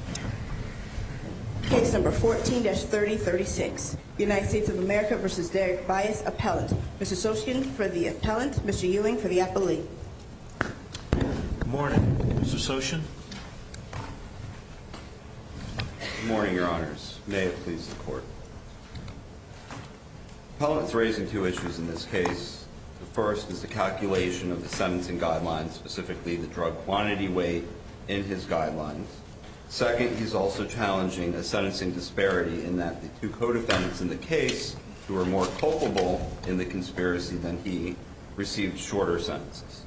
Appellant. Mr. Soshin for the Appellant. Mr. Ewing for the Appellee. Good morning. Mr. Soshin. Good morning, Your Honors. May it please the Court. The Appellant is raising two issues in this case. The first is the calculation of the sentencing guidelines, specifically the drug quantity weight in his guidelines. Second, he's also challenging a sentencing disparity in that the two co-defendants in the case, who are more culpable in the conspiracy than he, received shorter sentences.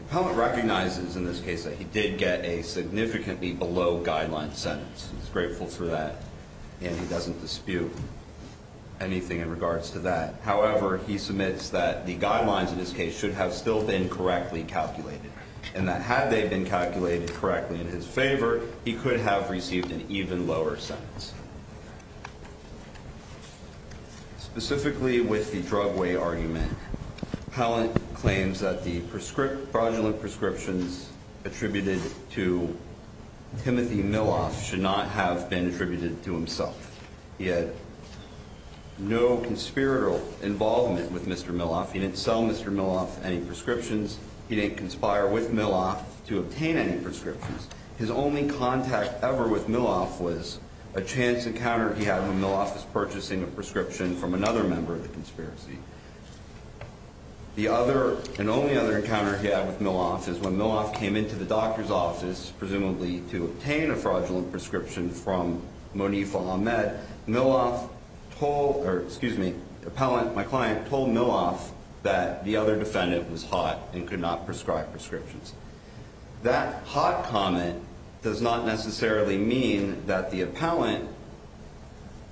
The Appellant recognizes in this case that he did get a significantly below guideline sentence. He's grateful for that, and he doesn't dispute anything in regards to that. However, he submits that the guidelines in this case should have still been correctly calculated, and that had they been calculated correctly in his favor, he could have received an even lower sentence. Specifically with the drug weight argument, Appellant claims that the fraudulent prescriptions attributed to Timothy Miloff should not have been attributed to himself. He had no conspiratorial involvement with Mr. Miloff. He didn't sell Mr. Miloff any prescriptions. He didn't conspire with Miloff to obtain any prescriptions. His only contact ever with Miloff was a chance encounter he had when Miloff was purchasing a prescription from another member of the conspiracy. The other and only other encounter he had with Miloff is when Miloff came into the doctor's office, presumably to obtain a fraudulent prescription from Monifa Ahmed. Appellant, my client, told Miloff that the other defendant was hot and could not prescribe prescriptions. That hot comment does not necessarily mean that the Appellant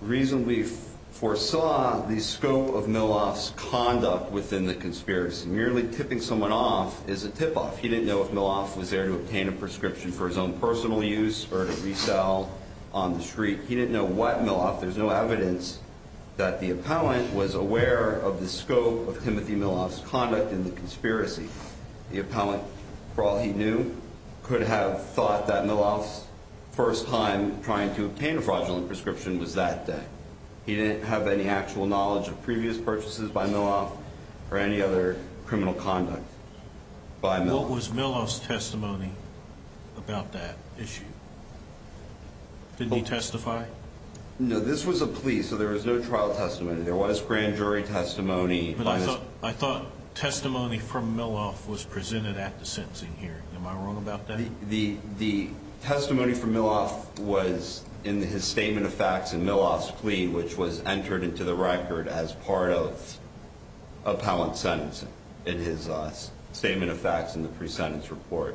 reasonably foresaw the scope of Miloff's conduct within the conspiracy. Merely tipping someone off is a tip-off. He didn't know if Miloff was there to obtain a prescription for his own personal use or to resell on the street. He didn't know what Miloff. There's no evidence that the Appellant was aware of the scope of Timothy Miloff's conduct in the conspiracy. The Appellant, for all he knew, could have thought that Miloff's first time trying to obtain a fraudulent prescription was that day. He didn't have any actual knowledge of previous purchases by Miloff or any other criminal conduct by Miloff. What was Miloff's testimony about that issue? Didn't he testify? No, this was a plea, so there was no trial testimony. There was grand jury testimony. But I thought testimony from Miloff was presented at the sentencing hearing. Am I wrong about that? The testimony from Miloff was in his statement of facts in Miloff's plea, which was entered into the record as part of Appellant's sentence. In his statement of facts in the pre-sentence report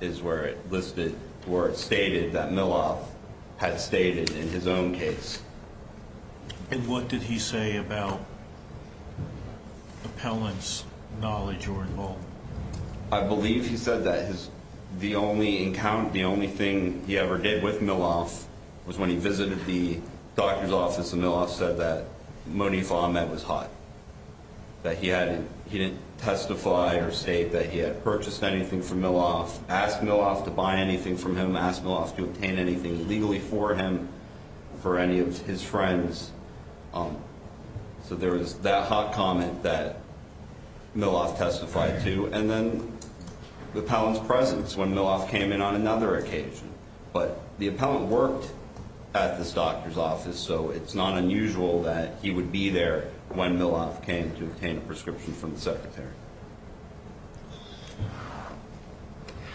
is where it listed or it stated that Miloff had stated in his own case. And what did he say about Appellant's knowledge or involvement? I believe he said that the only encounter, the only thing he ever did with Miloff was when he visited the doctor's office and Miloff said that Monif Ahmed was hot, that he didn't testify or state that he had purchased anything from Miloff, asked Miloff to buy anything from him, asked Miloff to obtain anything legally for him, for any of his friends. So there was that hot comment that Miloff testified to, and then the Appellant's presence when Miloff came in on another occasion. But the Appellant worked at this doctor's office, so it's not unusual that he would be there when Miloff came to obtain a prescription from the Secretary.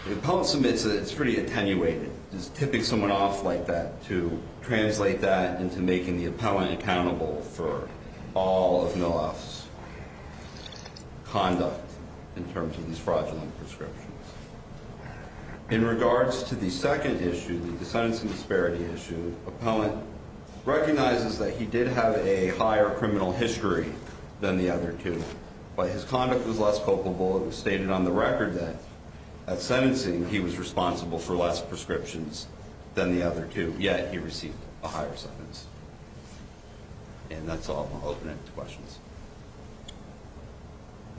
The Appellant submits it, it's pretty attenuated, just tipping someone off like that to translate that into making the Appellant accountable for all of Miloff's conduct in terms of these fraudulent prescriptions. In regards to the second issue, the sentencing disparity issue, Appellant recognizes that he did have a higher criminal history than the other two, but his conduct was less culpable. It was stated on the record that at sentencing he was responsible for less prescriptions than the other two, yet he received a higher sentence. And that's all. I'll open it to questions.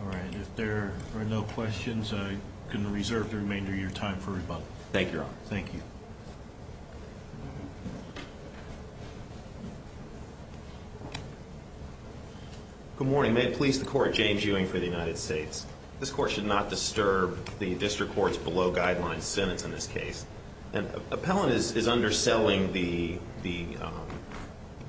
All right. If there are no questions, I'm going to reserve the remainder of your time for rebuttal. Thank you, Your Honor. Thank you. Good morning. May it please the Court, James Ewing for the United States. This Court should not disturb the District Court's below-guidelines sentence in this case. Appellant is underselling the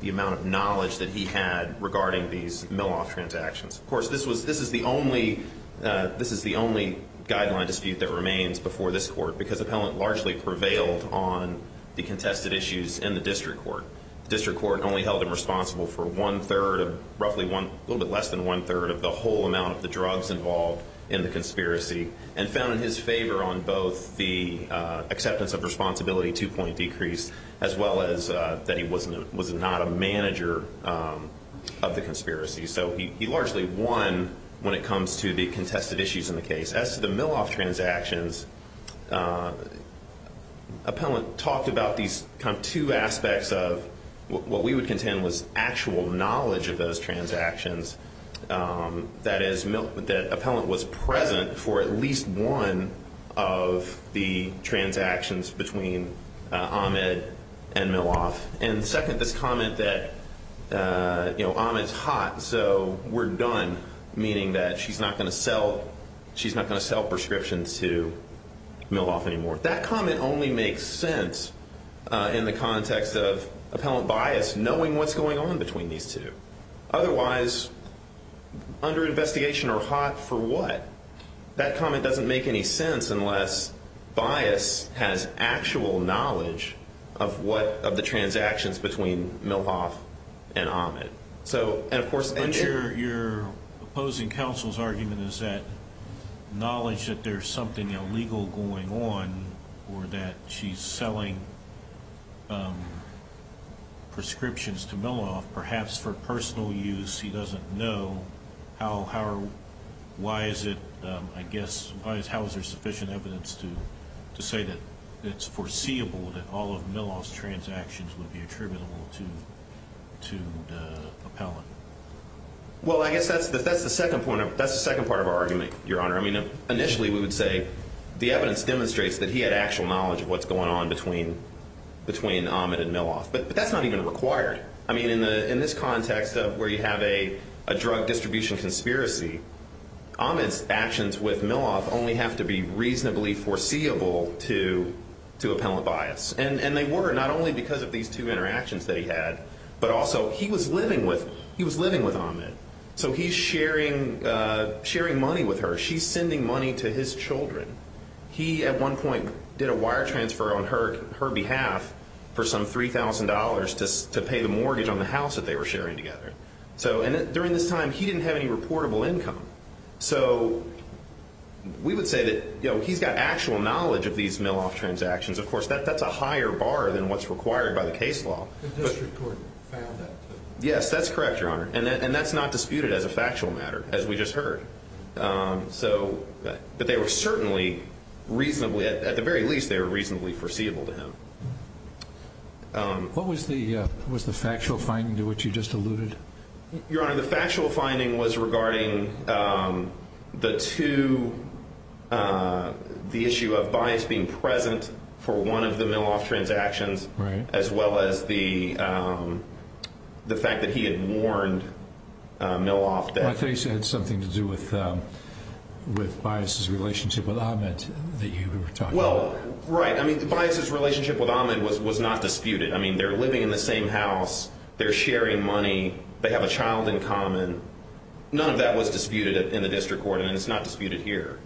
amount of knowledge that he had regarding these Miloff transactions. Of course, this is the only guideline dispute that remains before this Court because Appellant largely prevailed on the contested issues in the District Court. The District Court only held him responsible for one-third, roughly a little bit less than one-third of the whole amount of the drugs involved in the conspiracy and found in his favor on both the acceptance of responsibility, two-point decrease, as well as that he was not a manager of the conspiracy. So he largely won when it comes to the contested issues in the case. As to the Miloff transactions, Appellant talked about these two aspects of what we would contend was actual knowledge of those transactions, that is, that Appellant was present for at least one of the transactions between Ahmed and Miloff. And second, this comment that Ahmed's hot, so we're done, meaning that she's not going to sell prescriptions to Miloff anymore. That comment only makes sense in the context of Appellant bias knowing what's going on between these two. Otherwise, under investigation or hot, for what? That comment doesn't make any sense unless bias has actual knowledge of the transactions between Miloff and Ahmed. And, of course, your opposing counsel's argument is that knowledge that there's something illegal going on or that she's selling prescriptions to Miloff perhaps for personal use. He doesn't know. Why is it, I guess, how is there sufficient evidence to say that it's foreseeable that all of Miloff's transactions would be attributable to Appellant? Well, I guess that's the second part of our argument, Your Honor. I mean, initially we would say the evidence demonstrates that he had actual knowledge of what's going on between Ahmed and Miloff. But that's not even required. I mean, in this context of where you have a drug distribution conspiracy, Ahmed's actions with Miloff only have to be reasonably foreseeable to Appellant bias. And they were, not only because of these two interactions that he had, but also he was living with Ahmed. So he's sharing money with her. She's sending money to his children. He, at one point, did a wire transfer on her behalf for some $3,000 to pay the mortgage on the house that they were sharing together. And during this time, he didn't have any reportable income. So we would say that he's got actual knowledge of these Miloff transactions. Of course, that's a higher bar than what's required by the case law. The district court found that. Yes, that's correct, Your Honor. And that's not disputed as a factual matter, as we just heard. But they were certainly reasonably, at the very least, they were reasonably foreseeable to him. What was the factual finding to which you just alluded? Your Honor, the factual finding was regarding the two, the issue of bias being present for one of the Miloff transactions, as well as the fact that he had warned Miloff that- I think it had something to do with bias's relationship with Ahmed that you were talking about. Well, right. I mean, bias's relationship with Ahmed was not disputed. I mean, they're living in the same house. They're sharing money. They have a child in common. None of that was disputed in the district court, and it's not disputed here.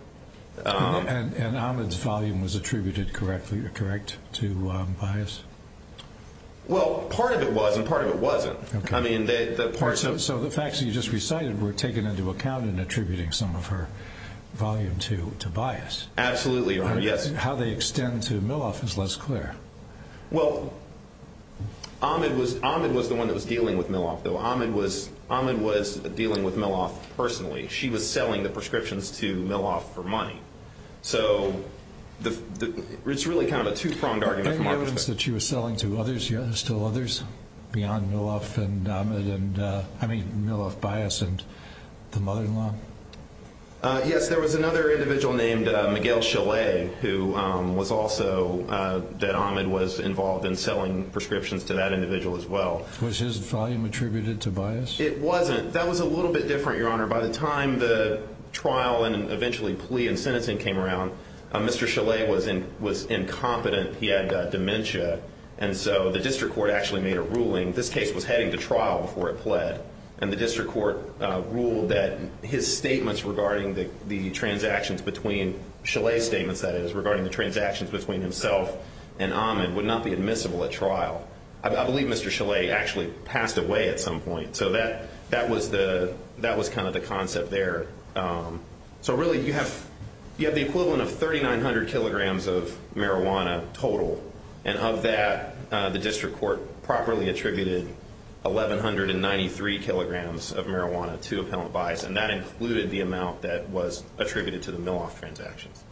And Ahmed's volume was attributed correctly or correct to bias? Well, part of it was and part of it wasn't. I mean, the part- So the facts that you just recited were taken into account in attributing some of her volume to bias. Absolutely, Your Honor. How they extend to Miloff is less clear. Well, Ahmed was the one that was dealing with Miloff, though. Ahmed was dealing with Miloff personally. She was selling the prescriptions to Miloff for money. So it's really kind of a two-pronged argument from our perspective. Any evidence that she was selling to others, still others, beyond Miloff and Ahmed and- I mean, Miloff, bias, and the mother-in-law? Yes. There was another individual named Miguel Chalet, who was also- that Ahmed was involved in selling prescriptions to that individual as well. Was his volume attributed to bias? It wasn't. That was a little bit different, Your Honor. By the time the trial and eventually plea and sentencing came around, Mr. Chalet was incompetent. He had dementia, and so the district court actually made a ruling. This case was heading to trial before it pled, and the district court ruled that his statements regarding the transactions between- Chalet's statements, that is, regarding the transactions between himself and Ahmed would not be admissible at trial. I believe Mr. Chalet actually passed away at some point. So that was kind of the concept there. So really, you have the equivalent of 3,900 kilograms of marijuana total, and of that, the district court properly attributed 1,193 kilograms of marijuana to appellant bias, and that included the amount that was attributed to the Miloff transactions.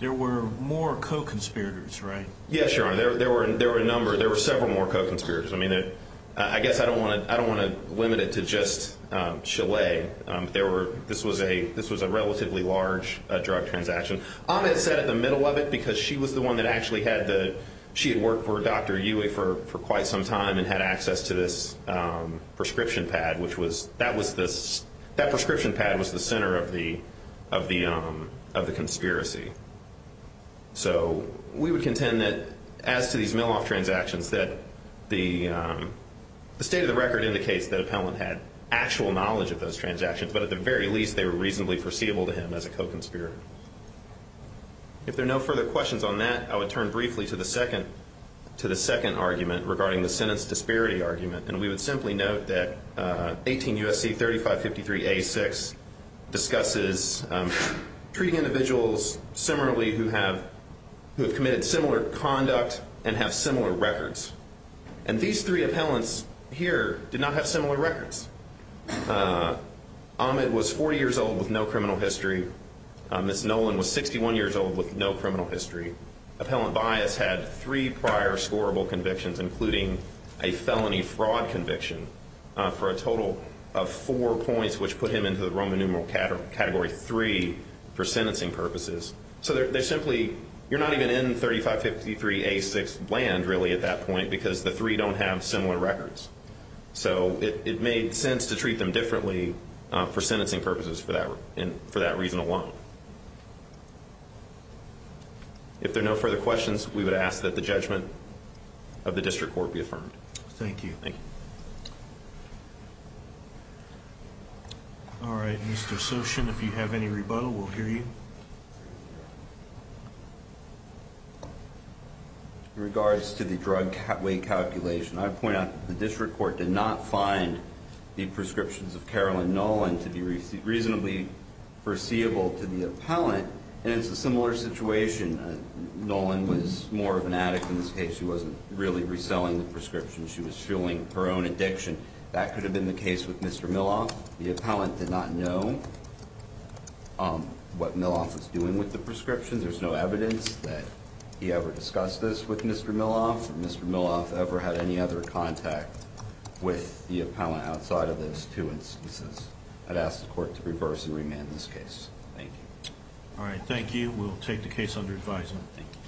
There were more co-conspirators, right? Yes, Your Honor. There were a number. There were several more co-conspirators. I mean, I guess I don't want to limit it to just Chalet. There were-this was a relatively large drug transaction. Ahmed sat at the middle of it because she was the one that actually had the- she had worked for Dr. Uwe for quite some time and had access to this prescription pad, which was-that was this-that prescription pad was the center of the conspiracy. So we would contend that as to these Miloff transactions, that the state of the record indicates that appellant had actual knowledge of those transactions, but at the very least, they were reasonably foreseeable to him as a co-conspirator. If there are no further questions on that, I would turn briefly to the second argument regarding the sentence disparity argument, and we would simply note that 18 U.S.C. 3553A6 discusses treating individuals similarly who have committed similar conduct and have similar records. And these three appellants here did not have similar records. Ahmed was 40 years old with no criminal history. Ms. Nolan was 61 years old with no criminal history. Appellant Bias had three prior scorable convictions, including a felony fraud conviction for a total of four points, which put him into the Roman numeral category three for sentencing purposes. So they're simply-you're not even in 3553A6 land, really, at that point, because the three don't have similar records. So it made sense to treat them differently for sentencing purposes for that reason alone. If there are no further questions, we would ask that the judgment of the district court be affirmed. Thank you. Thank you. All right, Mr. Sochin, if you have any rebuttal, we'll hear you. In regards to the drug weight calculation, I point out that the district court did not find the prescriptions of Carolyn Nolan to be reasonably foreseeable to the appellant, and it's a similar situation. Nolan was more of an addict in this case. She wasn't really reselling the prescriptions. She was fueling her own addiction. That could have been the case with Mr. Milloff. The appellant did not know what Milloff was doing with the prescriptions. There's no evidence that he ever discussed this with Mr. Milloff or Mr. Milloff ever had any other contact with the appellant outside of those two instances. I'd ask the court to reverse and remand this case. Thank you. All right, thank you. We'll take the case under advisement. Thank you.